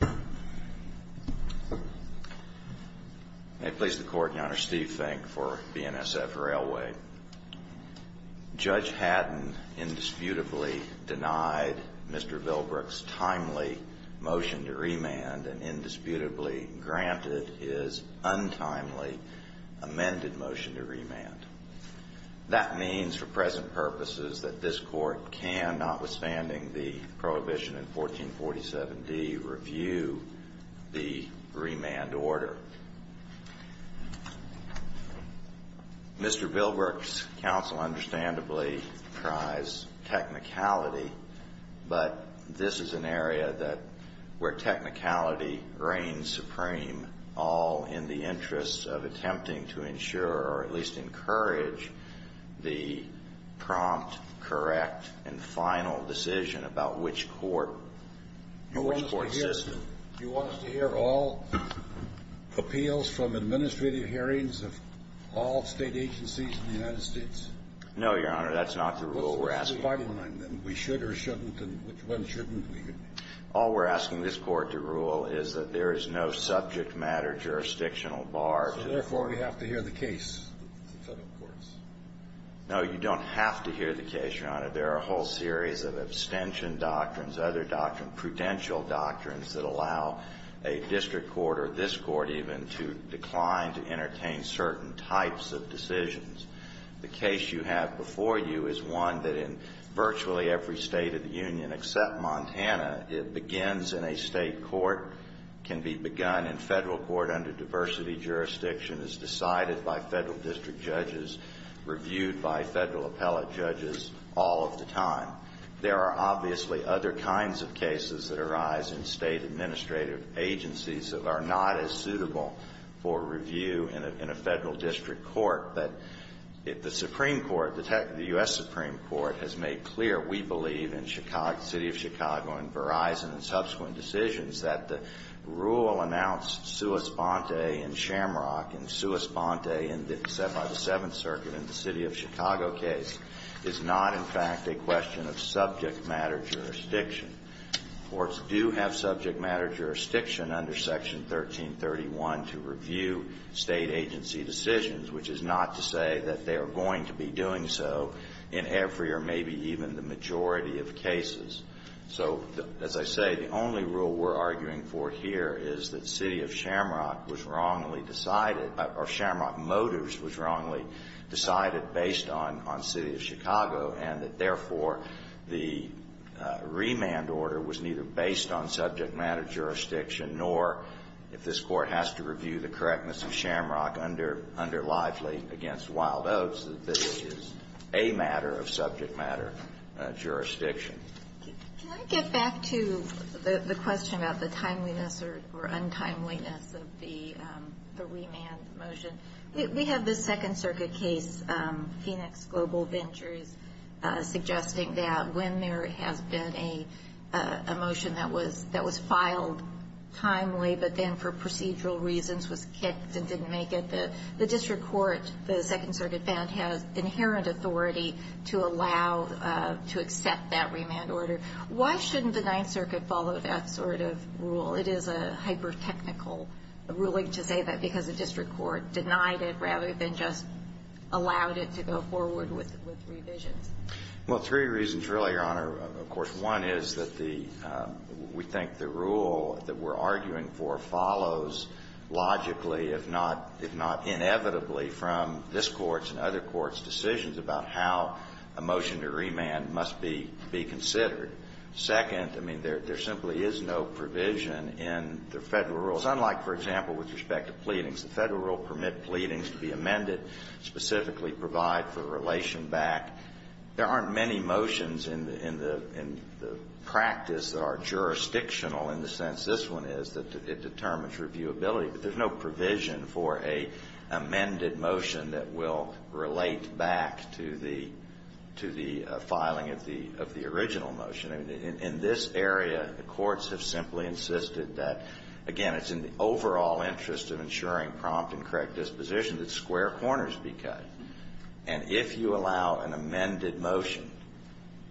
May it please the Court, Your Honor, Steve Fink for BNSF Railway. Judge Haddon indisputably denied Mr. Bilbruck's timely motion to remand and indisputably granted his untimely amended motion to remand. That means, for present purposes, that this Court can, notwithstanding the prohibition in 1447d, review the remand order. Mr. Bilbruck's counsel understandably tries technicality, but this is an area that where technicality reigns supreme, all in the interests of attempting to ensure, or at least encourage, the prompt, correct, and final decision about which court and which court system. Do you want us to hear all appeals from administrative hearings of all state agencies in the United States? No, Your Honor. That's not the rule we're asking. Then we should or shouldn't, and which one shouldn't? All we're asking this Court to rule is that there is no subject matter jurisdictional bar. Therefore, we have to hear the case of the Federal courts. No, you don't have to hear the case, Your Honor. There are a whole series of abstention doctrines, other doctrines, prudential doctrines that allow a district court or this Court even to decline to entertain certain types of decisions. The case you have before you is one that in virtually every State of the Union except Montana, it begins in a State court, can be begun in Federal court under diversity jurisdiction as decided by Federal district judges, reviewed by Federal appellate judges all of the time. There are obviously other kinds of cases that arise in State administrative agencies that are not as suitable for review in a Federal district court. But if the Supreme Court, the U.S. Supreme Court, has made clear, we believe, in the City of Chicago and Verizon and subsequent decisions, that the rule announced sua sponte in Shamrock and sua sponte by the Seventh Circuit in the City of Chicago case is not, in fact, a question of subject matter jurisdiction. Courts do have subject matter jurisdiction under Section 1331 to review State agency decisions, which is not to say that they are going to be doing so in every or maybe even the majority of cases. So, as I say, the only rule we're arguing for here is that City of Shamrock was wrongly decided, or Shamrock Motors was wrongly decided based on City of Chicago and that, therefore, the remand order was neither based on subject matter jurisdiction nor, if this Court has to review the correctness of Shamrock under Lively against Wild Oats, that this is a matter of subject matter jurisdiction. Can I get back to the question about the timeliness or untimeliness of the remand motion? We have the Second Circuit case, Phoenix Global Ventures, suggesting that when there has been a motion that was filed timely but then for procedural reasons was kicked and didn't make it, the district court, the Second Circuit filed a remand order. Why shouldn't the Ninth Circuit follow that sort of rule? It is a hyper-technical ruling to say that because the district court denied it rather than just allowed it to go forward with revisions. Well, three reasons really, Your Honor. Of course, one is that we think the rule that we're arguing for follows logically if not inevitably from this Court's and other Courts' decisions about how a motion to remand must be considered. Second, I mean, there simply is no provision in the Federal rules, unlike, for example, with respect to pleadings. The Federal rule permit pleadings to be amended, specifically provide for relation back. There aren't many motions in the practice that are jurisdictional in the sense this one is, that it determines reviewability. But there's no provision for a amended motion that will relate back to the filing of the original motion. In this area, the courts have simply insisted that, again, it's in the overall interest of ensuring prompt and correct disposition that square corners be cut. And if you allow an amended motion,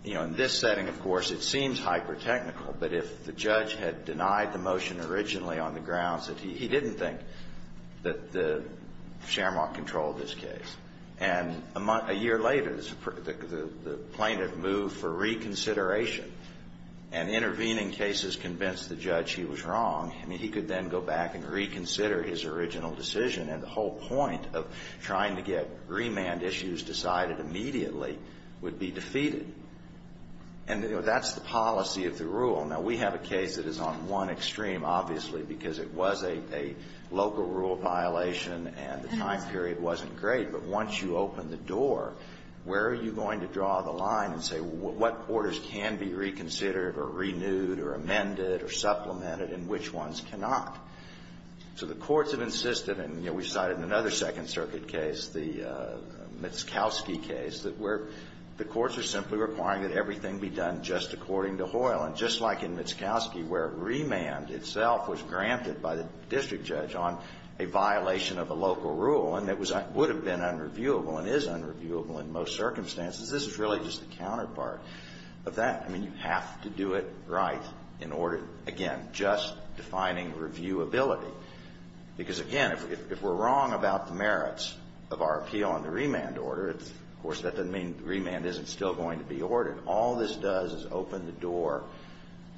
you know, in this setting, of course, it seems hyper-technical. But if the judge had denied the motion originally on the grounds that he didn't think that the shamrock controlled this case, and a month, a year later, the plaintiff moved for reconsideration and intervening cases convinced the judge he was wrong, I mean, he could then go back and reconsider his original decision and the whole point of trying to get remand issues decided immediately would be defeated. And, you know, that's the one extreme, obviously, because it was a local rule violation and the time period wasn't great. But once you open the door, where are you going to draw the line and say what quarters can be reconsidered or renewed or amended or supplemented and which ones cannot? So the courts have insisted, and, you know, we cited in another Second Circuit case, the Mitskowski case, that where the courts are simply requiring that everything be done just according to Hoyle. And just like in Mitskowski, where remand itself was granted by the district judge on a violation of a local rule and that would have been unreviewable and is unreviewable in most circumstances, this is really just the counterpart of that. I mean, you have to do it right in order, again, just defining reviewability. Because, again, if we're wrong about the merits of our remand order, of course, that doesn't mean the remand isn't still going to be ordered. All this does is open the door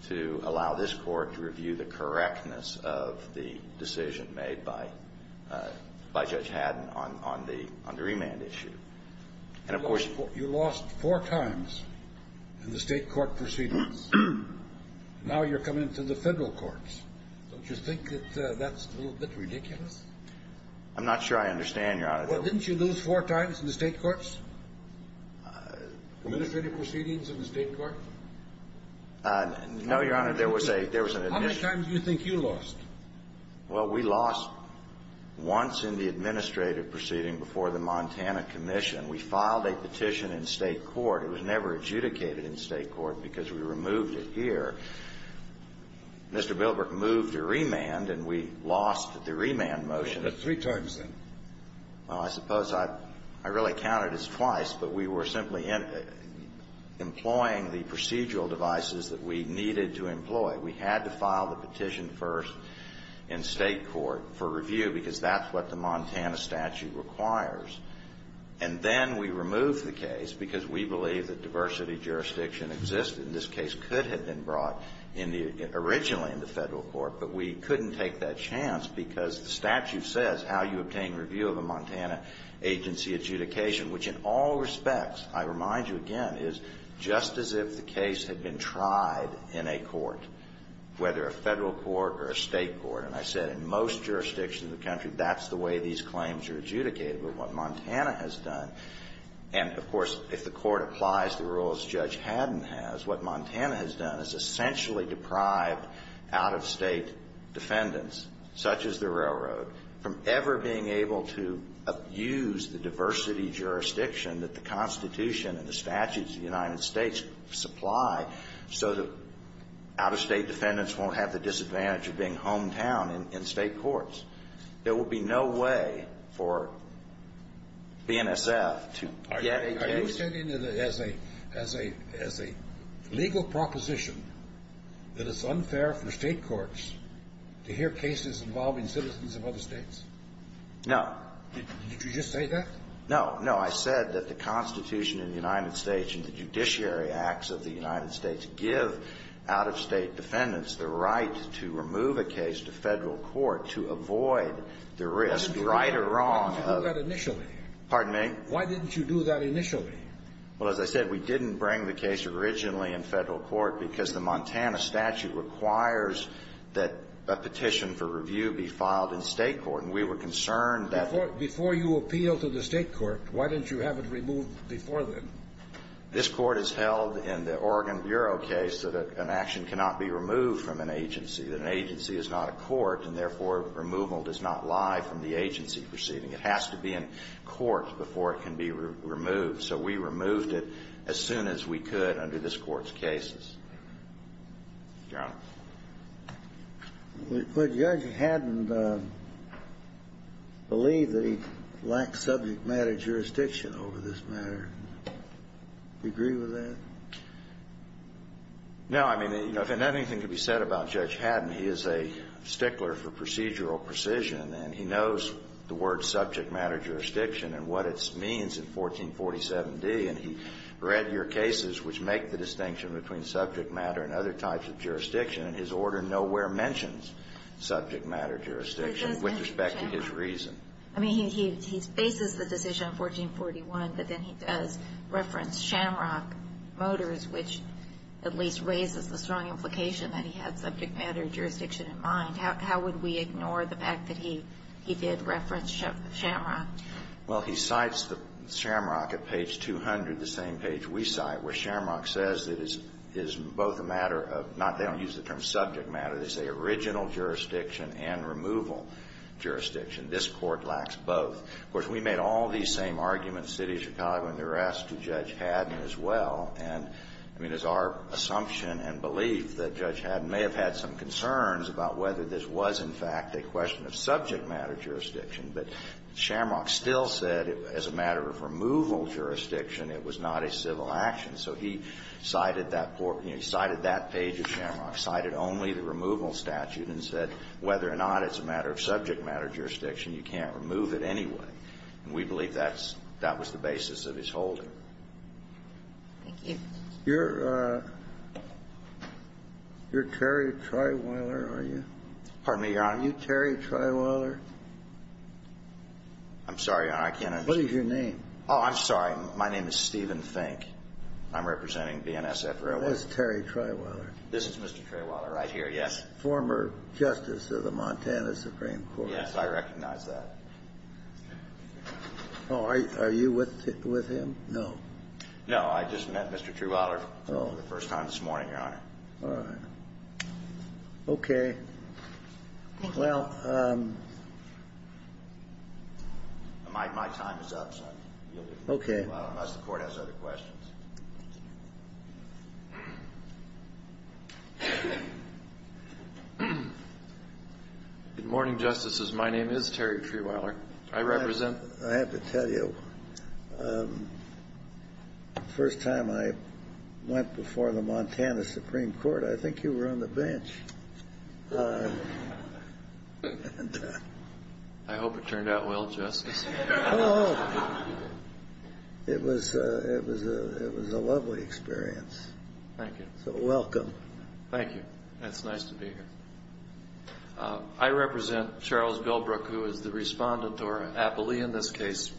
to allow this court to review the correctness of the decision made by Judge Haddon on the remand issue. And, of course, you lost four times in the state court proceedings. Now you're coming to the federal courts. Don't you think that that's a little bit I'm not sure I understand, Your Honor. Well, didn't you lose four times in the state courts? Administrative proceedings in the state court? No, Your Honor. There was a How many times do you think you lost? Well, we lost once in the administrative proceeding before the Montana Commission. We filed a petition in state court. It was never adjudicated in state court because we removed it here. Mr. Bilbrook moved a remand and we lost the remand motion. Three times then. I suppose I really counted as twice, but we were simply employing the procedural devices that we needed to employ. We had to file the petition first in state court for review because that's what the Montana statute requires. And then we removed the case because we believe that diversity jurisdiction existed. This case could have been brought originally in the federal court, but we couldn't take that chance because the statute says how you obtain review of a Montana agency adjudication, which in all respects, I remind you again, is just as if the case had been tried in a court, whether a federal court or a state court. And I said in most jurisdictions in the country, that's the way these claims are adjudicated. But what Montana has done, and of course, if the court applies the rules Judge Haddon has, what Montana has done is essentially deprived out-of-state defendants, such as the railroad, from ever being able to use the diversity jurisdiction that the Constitution and the statutes of the United States supply so that out-of-state defendants won't have the disadvantage of being hometown in state courts. There will be no way for BNSF to get a case Are you stating that as a legal proposition that it's unfair for state courts to hear cases involving citizens of other states? No. Did you just say that? No. No. I said that the Constitution of the United States and the judiciary acts of the United States give out-of-state defendants the right to remove a case to federal court to avoid the risk, right or wrong. Why didn't you do that initially? Pardon me? Why didn't you do that initially? Well, as I said, we didn't bring the case originally in federal court because the Montana statute requires that a petition for review be filed in state court, and we were concerned that Before you appeal to the state court, why didn't you have it removed before then? This court has held in the Oregon Bureau case that an action cannot be removed from an agency, that an agency is not a court, and therefore removal does not lie from the agency proceeding. It has to be in court before it can be removed. So we removed it as soon as we could under this Court's cases. Your Honor? Would Judge Haddon believe that he lacks subject matter jurisdiction over this matter? Do you agree with that? No. I mean, if anything could be said about Judge Haddon, he is a stickler for procedural precision, and he knows the word subject matter jurisdiction and what it means in 1447d, and he read your cases which make the distinction between subject matter and other types of jurisdiction, and his order nowhere mentions subject matter jurisdiction with respect to his reason. I mean, he bases the decision on 1441, but then he does reference Shamrock Motors, which at least raises the strong implication that he had subject matter jurisdiction in mind. How would we ignore the fact that he did reference Shamrock? Well, he cites Shamrock at page 200, the same page we cite, where Shamrock says that it's both a matter of not they don't use the term subject matter. They say original jurisdiction and removal jurisdiction. This Court lacks both. Of course, we made all these same arguments, the City of Chicago and the rest, to Judge Haddon as well. And I mean, it's our assumption and belief that Judge Haddon may have had some concerns about whether this was, in fact, a question of subject matter jurisdiction. But Shamrock still said as a matter of removal jurisdiction, it was not a civil action. So he cited that page of Shamrock, cited only the removal statute, and said whether or not it's a matter of subject matter jurisdiction, you can't remove it anyway. And we believe that's the basis of his holding. Thank you. You're Terry Trewiller, are you? Pardon me, Your Honor. Are you Terry Trewiller? I'm sorry, Your Honor. What is your name? Oh, I'm sorry. My name is Stephen Fink. I'm representing BNSF Railway. That's Terry Trewiller. This is Mr. Trewiller right here, yes. Former Justice of the Montana Supreme Court. Yes, I recognize that. Are you with him? No. No, I just met Mr. Trewiller for the first time this morning, Your Honor. All right. Okay. Well, my time is up, so I yield it to you, unless the Court has other questions. Good morning, Justices. My name is Terry Trewiller. I represent I have to tell you, the first time I went before the Montana Supreme Court, I think you were on the bench. I hope it turned out well, Justice. It was a lovely experience. Thank you. Welcome. Thank you. It's nice to be here. I represent Charles Bilbrook, who is the respondent or appellee in this case.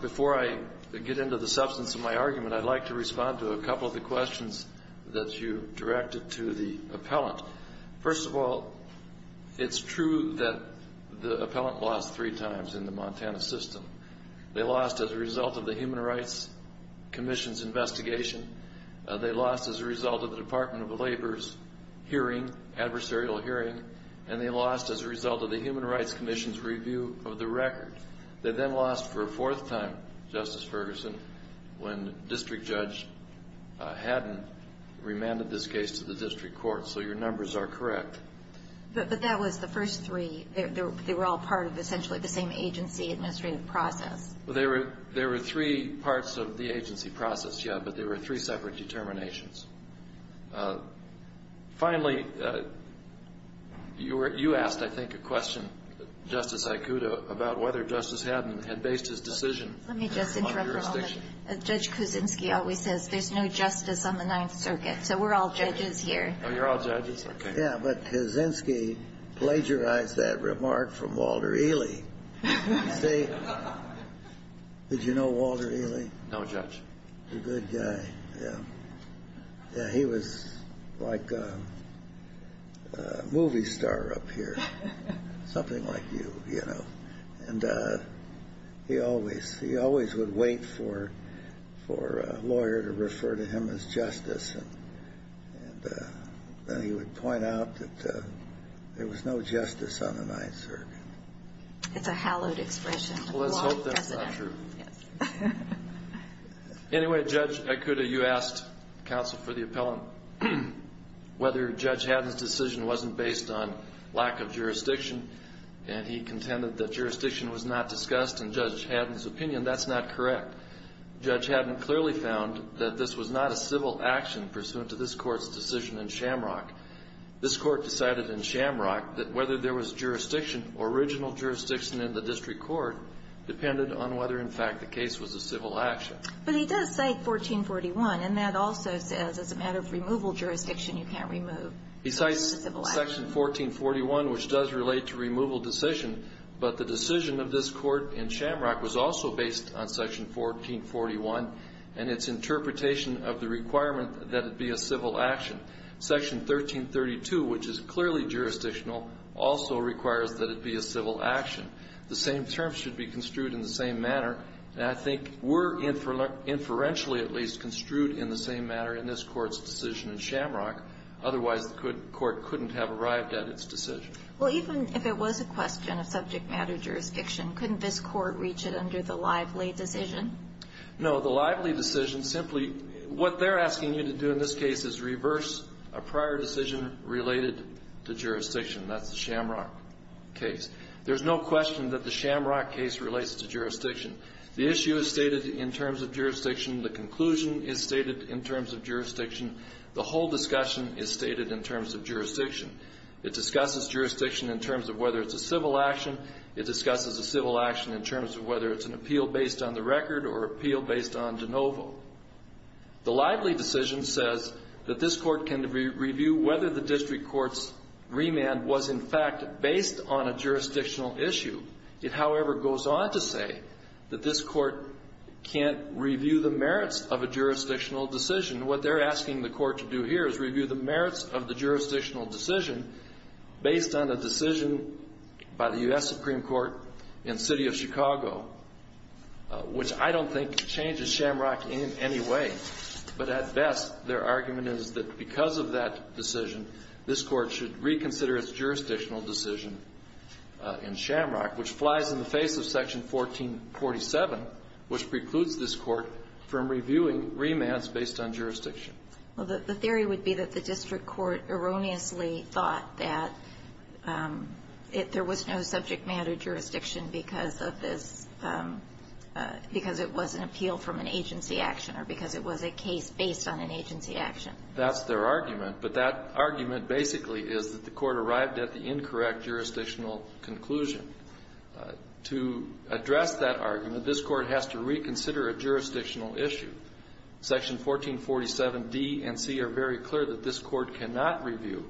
Before I get into the substance of my argument, I'd like to respond to a couple of the questions that you directed to the appellant. First of all, it's true that the appellant lost three times in the Montana system. They lost as a result of the Human Rights Commission's investigation. They lost as a result of the Department of Labor's hearing, adversarial hearing. And they lost as a result of the Human Rights Commission's review of the record. They then lost for a period when District Judge Haddon remanded this case to the District Court. So your numbers are correct. But that was the first three. They were all part of essentially the same agency administrative process. There were three parts of the agency process, yeah, but they were three separate determinations. Finally, you asked, I think, a question, Justice Aikuda, about whether Justice Haddon had based his decision on jurisdiction. Let me just interrupt for a moment. Judge Kuczynski always says there's no justice on the Ninth Circuit, so we're all judges here. Oh, you're all judges? Okay. Yeah, but Kuczynski plagiarized that remark from Walter Ely. See? Did you know Walter Ely? No, Judge. A good guy, yeah. Yeah, he was like a movie star up here, something like you, you know. And he always would wait for a lawyer to refer to him as justice. And then he would point out that there was no justice on the Ninth Circuit. It's a hallowed expression. Well, let's hope that's not true. Yes. Anyway, Judge Aikuda, you asked counsel for the appellant and he contended that jurisdiction was not discussed, and Judge Haddon's opinion, that's not correct. Judge Haddon clearly found that this was not a civil action pursuant to this Court's decision in Shamrock. This Court decided in Shamrock that whether there was jurisdiction, original jurisdiction in the district court, depended on whether, in fact, the case was a civil action. But he does say 1441, and that also says as a matter of removal jurisdiction, you can't remove. He cites Section 1441, which does relate to removal decision, but the decision of this Court in Shamrock was also based on Section 1441 and its interpretation of the requirement that it be a civil action. Section 1332, which is clearly jurisdictional, also requires that it be a civil action. The same terms should be construed in the same manner, and I think were inferentially at least construed in the same manner in this Court's decision in Shamrock. Otherwise, the Court couldn't have arrived at its decision. Well, even if it was a question of subject matter jurisdiction, couldn't this Court reach it under the Lively decision? No. The Lively decision simply what they're asking you to do in this case is reverse a prior decision related to jurisdiction. That's the Shamrock case. There's no question that the Shamrock case relates to jurisdiction. The issue is stated in terms of jurisdiction. The conclusion is stated in terms of jurisdiction. The whole discussion is stated in terms of jurisdiction. It discusses jurisdiction in terms of whether it's a civil action. It discusses a civil action in terms of whether it's an appeal based on the record or appeal based on de novo. The Lively decision says that this Court can review whether the district court's remand was in fact based on a jurisdictional issue. It, however, goes on to say that this Court can't review the merits of a jurisdictional decision. What they're asking the Court to do here is review the merits of the jurisdictional decision based on a decision by the U.S. Supreme Court in the city of Chicago, which I don't think changes Shamrock in any way. But at best, their argument is that because of that decision, this Court should reconsider its jurisdictional decision in Shamrock, which flies in the face of Section 1447, which precludes this Court from reviewing remands based on jurisdiction. Well, the theory would be that the district court erroneously thought that there was no subject matter jurisdiction because of this, because it was an appeal from an agency action or because it was a case based on an agency action. That's their argument. But that argument basically is that the Court arrived at the incorrect jurisdictional conclusion. To address that argument, this Court has to reconsider a jurisdictional issue. Section 1447d and c are very clear that this Court cannot review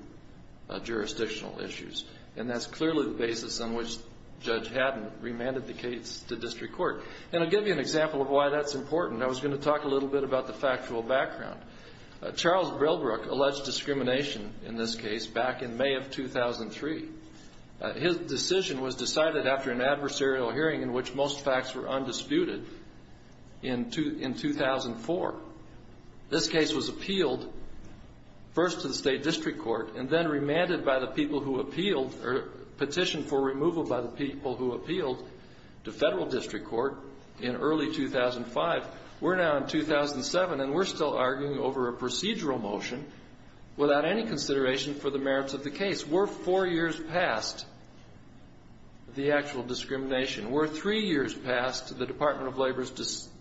jurisdictional issues. And that's clearly the basis on which Judge Haddon remanded the case to district court. And I'll give you an example of why that's important. I was going to talk a little bit about the factual background. Charles Brillbrook alleged discrimination in this case back in May of 2003. His decision was decided after an adversarial hearing in which most facts were undisputed in 2004. This case was appealed first to the state district court and then remanded by the people who appealed, or petitioned for removal by the people who appealed to federal district court in early 2005. We're now in 2007, and we're still arguing over a procedural motion without any consideration for the merits of the case. We're four years past the actual discrimination. We're three years past the Department of Labor's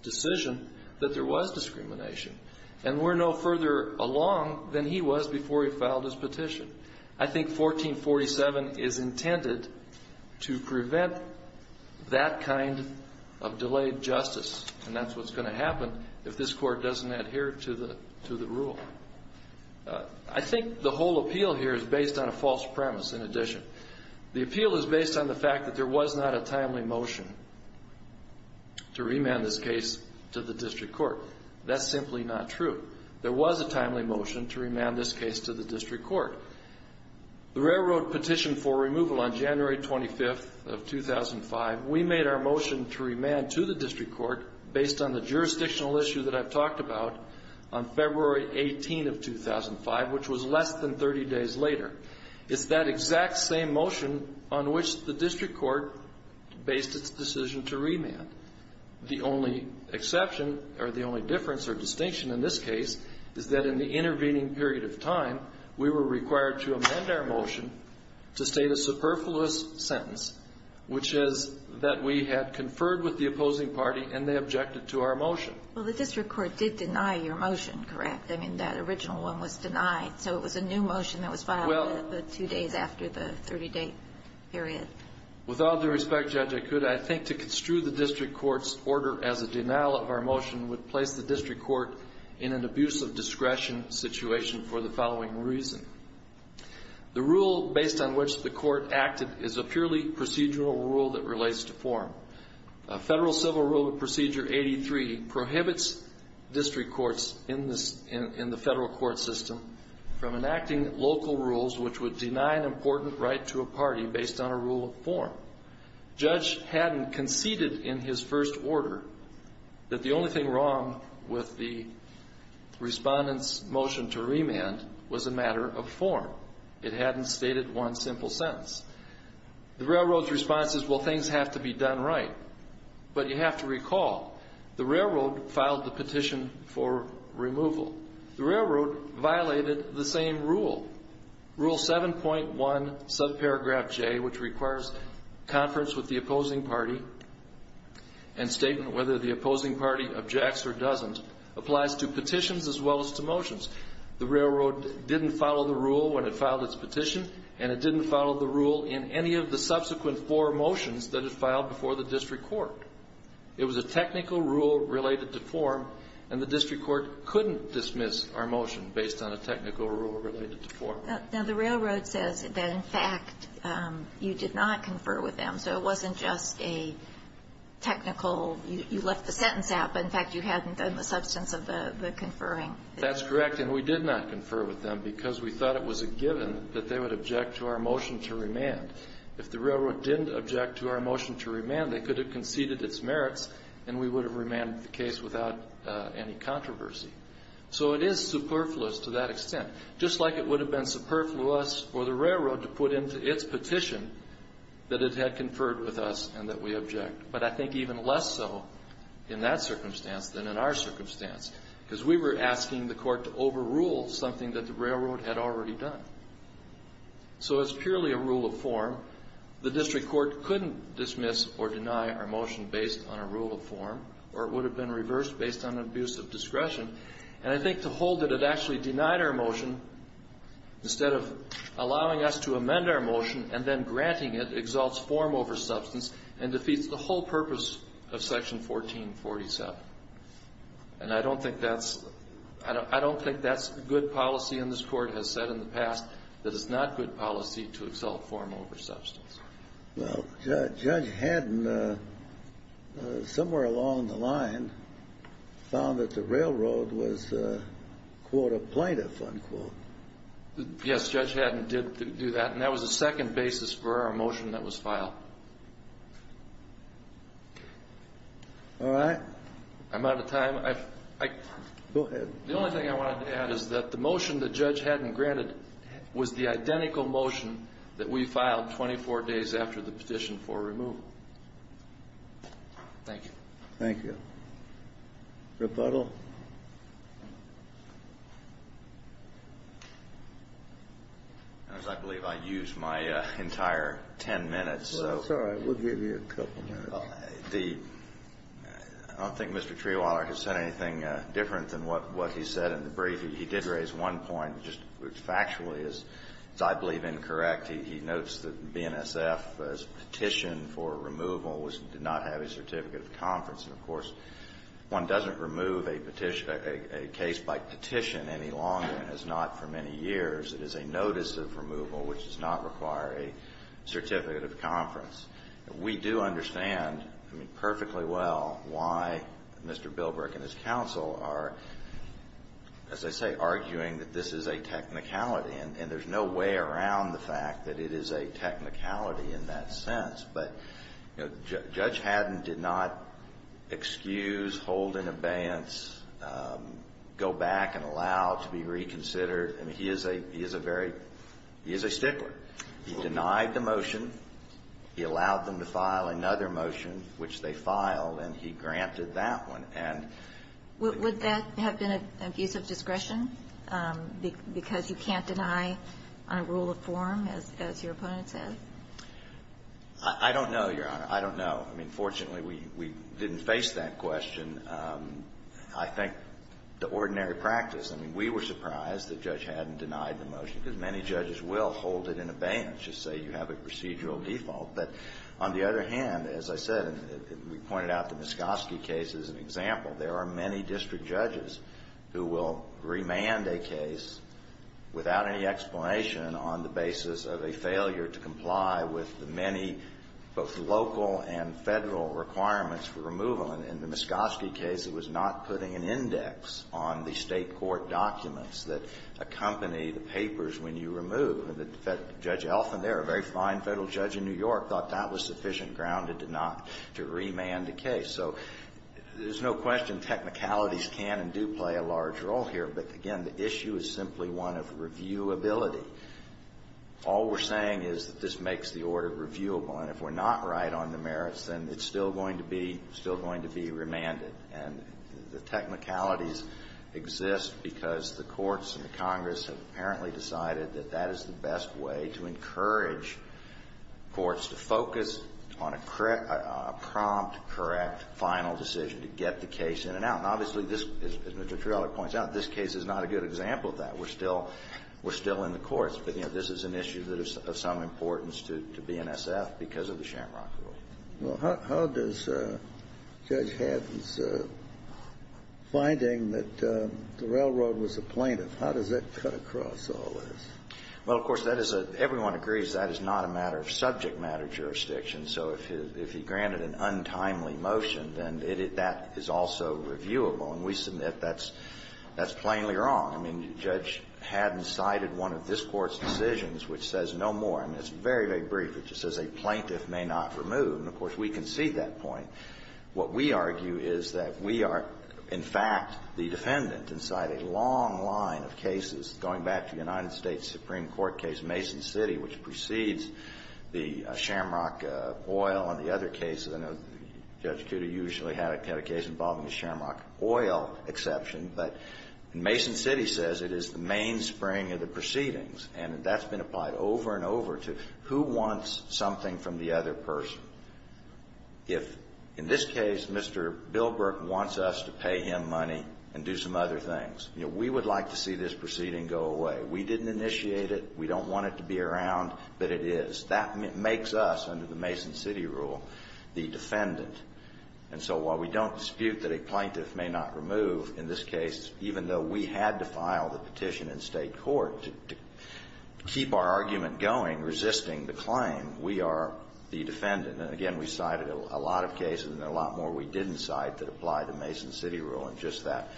decision that there was discrimination. And we're no further along than he was before he filed his petition. I think 1447 is intended to prevent that kind of delayed justice. And that's what's going to happen if this Court doesn't adhere to the rule. I think the whole appeal here is based on a false premise, in addition. The appeal is based on the fact that there was not a timely motion to remand this case to the district court. That's simply not true. There was a timely motion to remand this case to the district court. The railroad petitioned for removal on January 25th of 2005. We made our motion to remand to the district court based on the jurisdictional issue that I've talked about on February 18th of 2005, which was less than 30 days later. It's that exact same motion on which the district court based its decision to remand. The only exception, or the only difference or distinction in this case, is that in the intervening period of time, we were required to amend our motion to state a superfluous sentence, which is that we had conferred with the opposing party and they objected to our motion. Well, the district court did deny your motion, correct? I mean, that original one was denied. So it was a new motion that was filed two days after the 30-day period. With all due respect, Judge Ikuda, I think to construe the district court's order as a denial of our motion would place the district court in an abuse of discretion situation for the following reason. The rule based on which the court acted is a purely procedural rule that relates to form. Federal Civil Rule Procedure 83 prohibits district courts in the federal court system from enacting local rules which would deny an important right to a party based on a rule of form. Judge Haddon conceded in his first order that the only thing wrong with the respondent's motion to remand was a matter of form. It hadn't stated one simple sentence. The railroad's response is, well, things have to be done right. But you have to recall the railroad filed the petition for removal. The railroad violated the same rule. Rule 7.1 subparagraph J, which requires conference with the opposing party and statement whether the opposing party objects or doesn't, applies to petitions as well as to motions. The railroad didn't follow the rule when it filed its petition, and it didn't follow the rule in any of the subsequent four motions that it filed before the district court. It was a technical rule related to form, and the district court couldn't dismiss our motion based on a technical rule related to form. Now, the railroad says that, in fact, you did not confer with them, so it wasn't just a technical you left the sentence out, but in fact you hadn't done the substance of the conferring. That's correct, and we did not confer with them because we thought it was a given that they would object to our motion to remand. If the railroad didn't object to our motion to remand, they could have conceded its merits, and we would have remanded the case without any controversy. So it is superfluous to that extent, just like it would have been superfluous for the railroad to put into its petition that it had conferred with us and that we object, but I think even less so in that circumstance than in our circumstance, because we were asking the court to overrule something that the railroad had already done. So it's purely a rule of form. The district court couldn't dismiss or deny our motion based on a rule of form, or it would have been reversed based on an abuse of discretion, and I think to hold that it actually denied our motion, instead of allowing us to amend our motion and then granting it exalts form over substance and defeats the whole purpose of Section 1447. And I don't think that's good policy, and this Court has said in the past that it's not good policy to exalt form over substance. Well, Judge Haddon, somewhere along the line, found that the railroad was, quote, a plaintiff, unquote. Yes, Judge Haddon did do that, and that was a second basis for our motion that was filed. All right. I'm out of time. Go ahead. The only thing I wanted to add is that the motion that Judge Haddon granted was the identical motion that we filed 24 days after the petition for removal. Thank you. Thank you. Rebuttal? I believe I used my entire ten minutes. That's all right. We'll give you a couple minutes. I don't think Mr. Trewiler has said anything different than what he said in the brief. Factually, it's, I believe, incorrect. He notes that BNSF's petition for removal did not have a certificate of conference. And, of course, one doesn't remove a case by petition any longer, and has not for many years. It is a notice of removal, which does not require a certificate of conference. We do understand, I mean, perfectly well, why Mr. Bilbrick and his counsel are, as I say, arguing that this is a technicality. And there's no way around the fact that it is a technicality in that sense. But, you know, Judge Haddon did not excuse, hold in abeyance, go back and allow to be reconsidered. I mean, he is a very – he is a stickler. He denied the motion. He allowed them to file another motion, which they filed, and he granted that one. And – And you don't deny the motion because you can't deny on a rule of form, as your opponent says? I don't know, Your Honor. I don't know. I mean, fortunately, we didn't face that question. I think the ordinary practice – I mean, we were surprised that Judge Haddon denied the motion, because many judges will hold it in abeyance, just say you have a procedural default. But on the other hand, as I said, and we pointed out the Muscovsky case as an example, there are many district judges who will remand a case without any explanation on the basis of a failure to comply with the many both local and Federal requirements for removal. And in the Muscovsky case, it was not putting an index on the State court documents that accompany the papers when you remove. And Judge Elfin there, a very fine Federal judge in New York, said, okay, so there's no question technicalities can and do play a large role here. But again, the issue is simply one of reviewability. All we're saying is that this makes the order reviewable. And if we're not right on the merits, then it's still going to be – still going to be remanded. And the technicalities exist because the courts and the Congress have apparently decided that that is the correct final decision to get the case in and out. And obviously, as Mr. Torello points out, this case is not a good example of that. We're still – we're still in the courts. But, you know, this is an issue that is of some importance to BNSF because of the Shamrock Rule. Kennedy. Well, how does Judge Haddon's finding that the railroad was a plaintiff, how does that cut across all this? Phillips. Well, of course, that is a – everyone agrees that is not a matter of subject matter jurisdiction. So if he – if he granted an untimely motion, then it – that is also reviewable. And we submit that's – that's plainly wrong. I mean, Judge Haddon cited one of this Court's decisions which says no more. And it's very, very brief. It just says a plaintiff may not remove. And, of course, we concede that point. What we argue is that we are, in fact, the defendant inside a long line of cases going back to the United States Supreme Court case Mason City, which precedes the Shamrock Oil and the other cases. I know Judge Cuda usually had a case involving the Shamrock Oil exception, but Mason City says it is the mainspring of the proceedings. And that's been applied over and over to who wants something from the other person. If, in this case, Mr. Bilbrook wants us to pay him money and do some other things, you know, we would like to see this proceeding go away. We didn't initiate it. We don't want it to be around, but it is. That makes us, under the Mason City rule, the defendant. And so while we don't dispute that a plaintiff may not remove, in this case, even though we had to file the petition in State court to keep our argument going, resisting the claim, we are the defendant. And, again, we cited a lot of cases and a lot more we didn't cite that apply to Mason City, but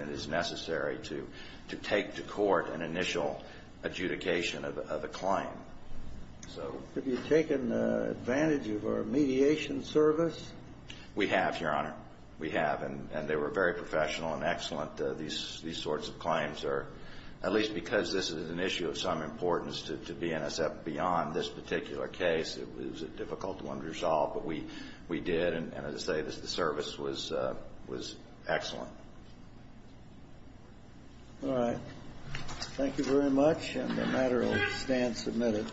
it is necessary to take to court an initial adjudication of a claim. So... Have you taken advantage of our mediation service? We have, Your Honor. We have. And they were very professional and excellent. These sorts of claims are, at least because this is an issue of some importance to BNSF beyond this particular case, it was difficult to unresolve. But we did. And, as I say, the service was excellent. All right. Thank you very much. And the matter will stand submitted.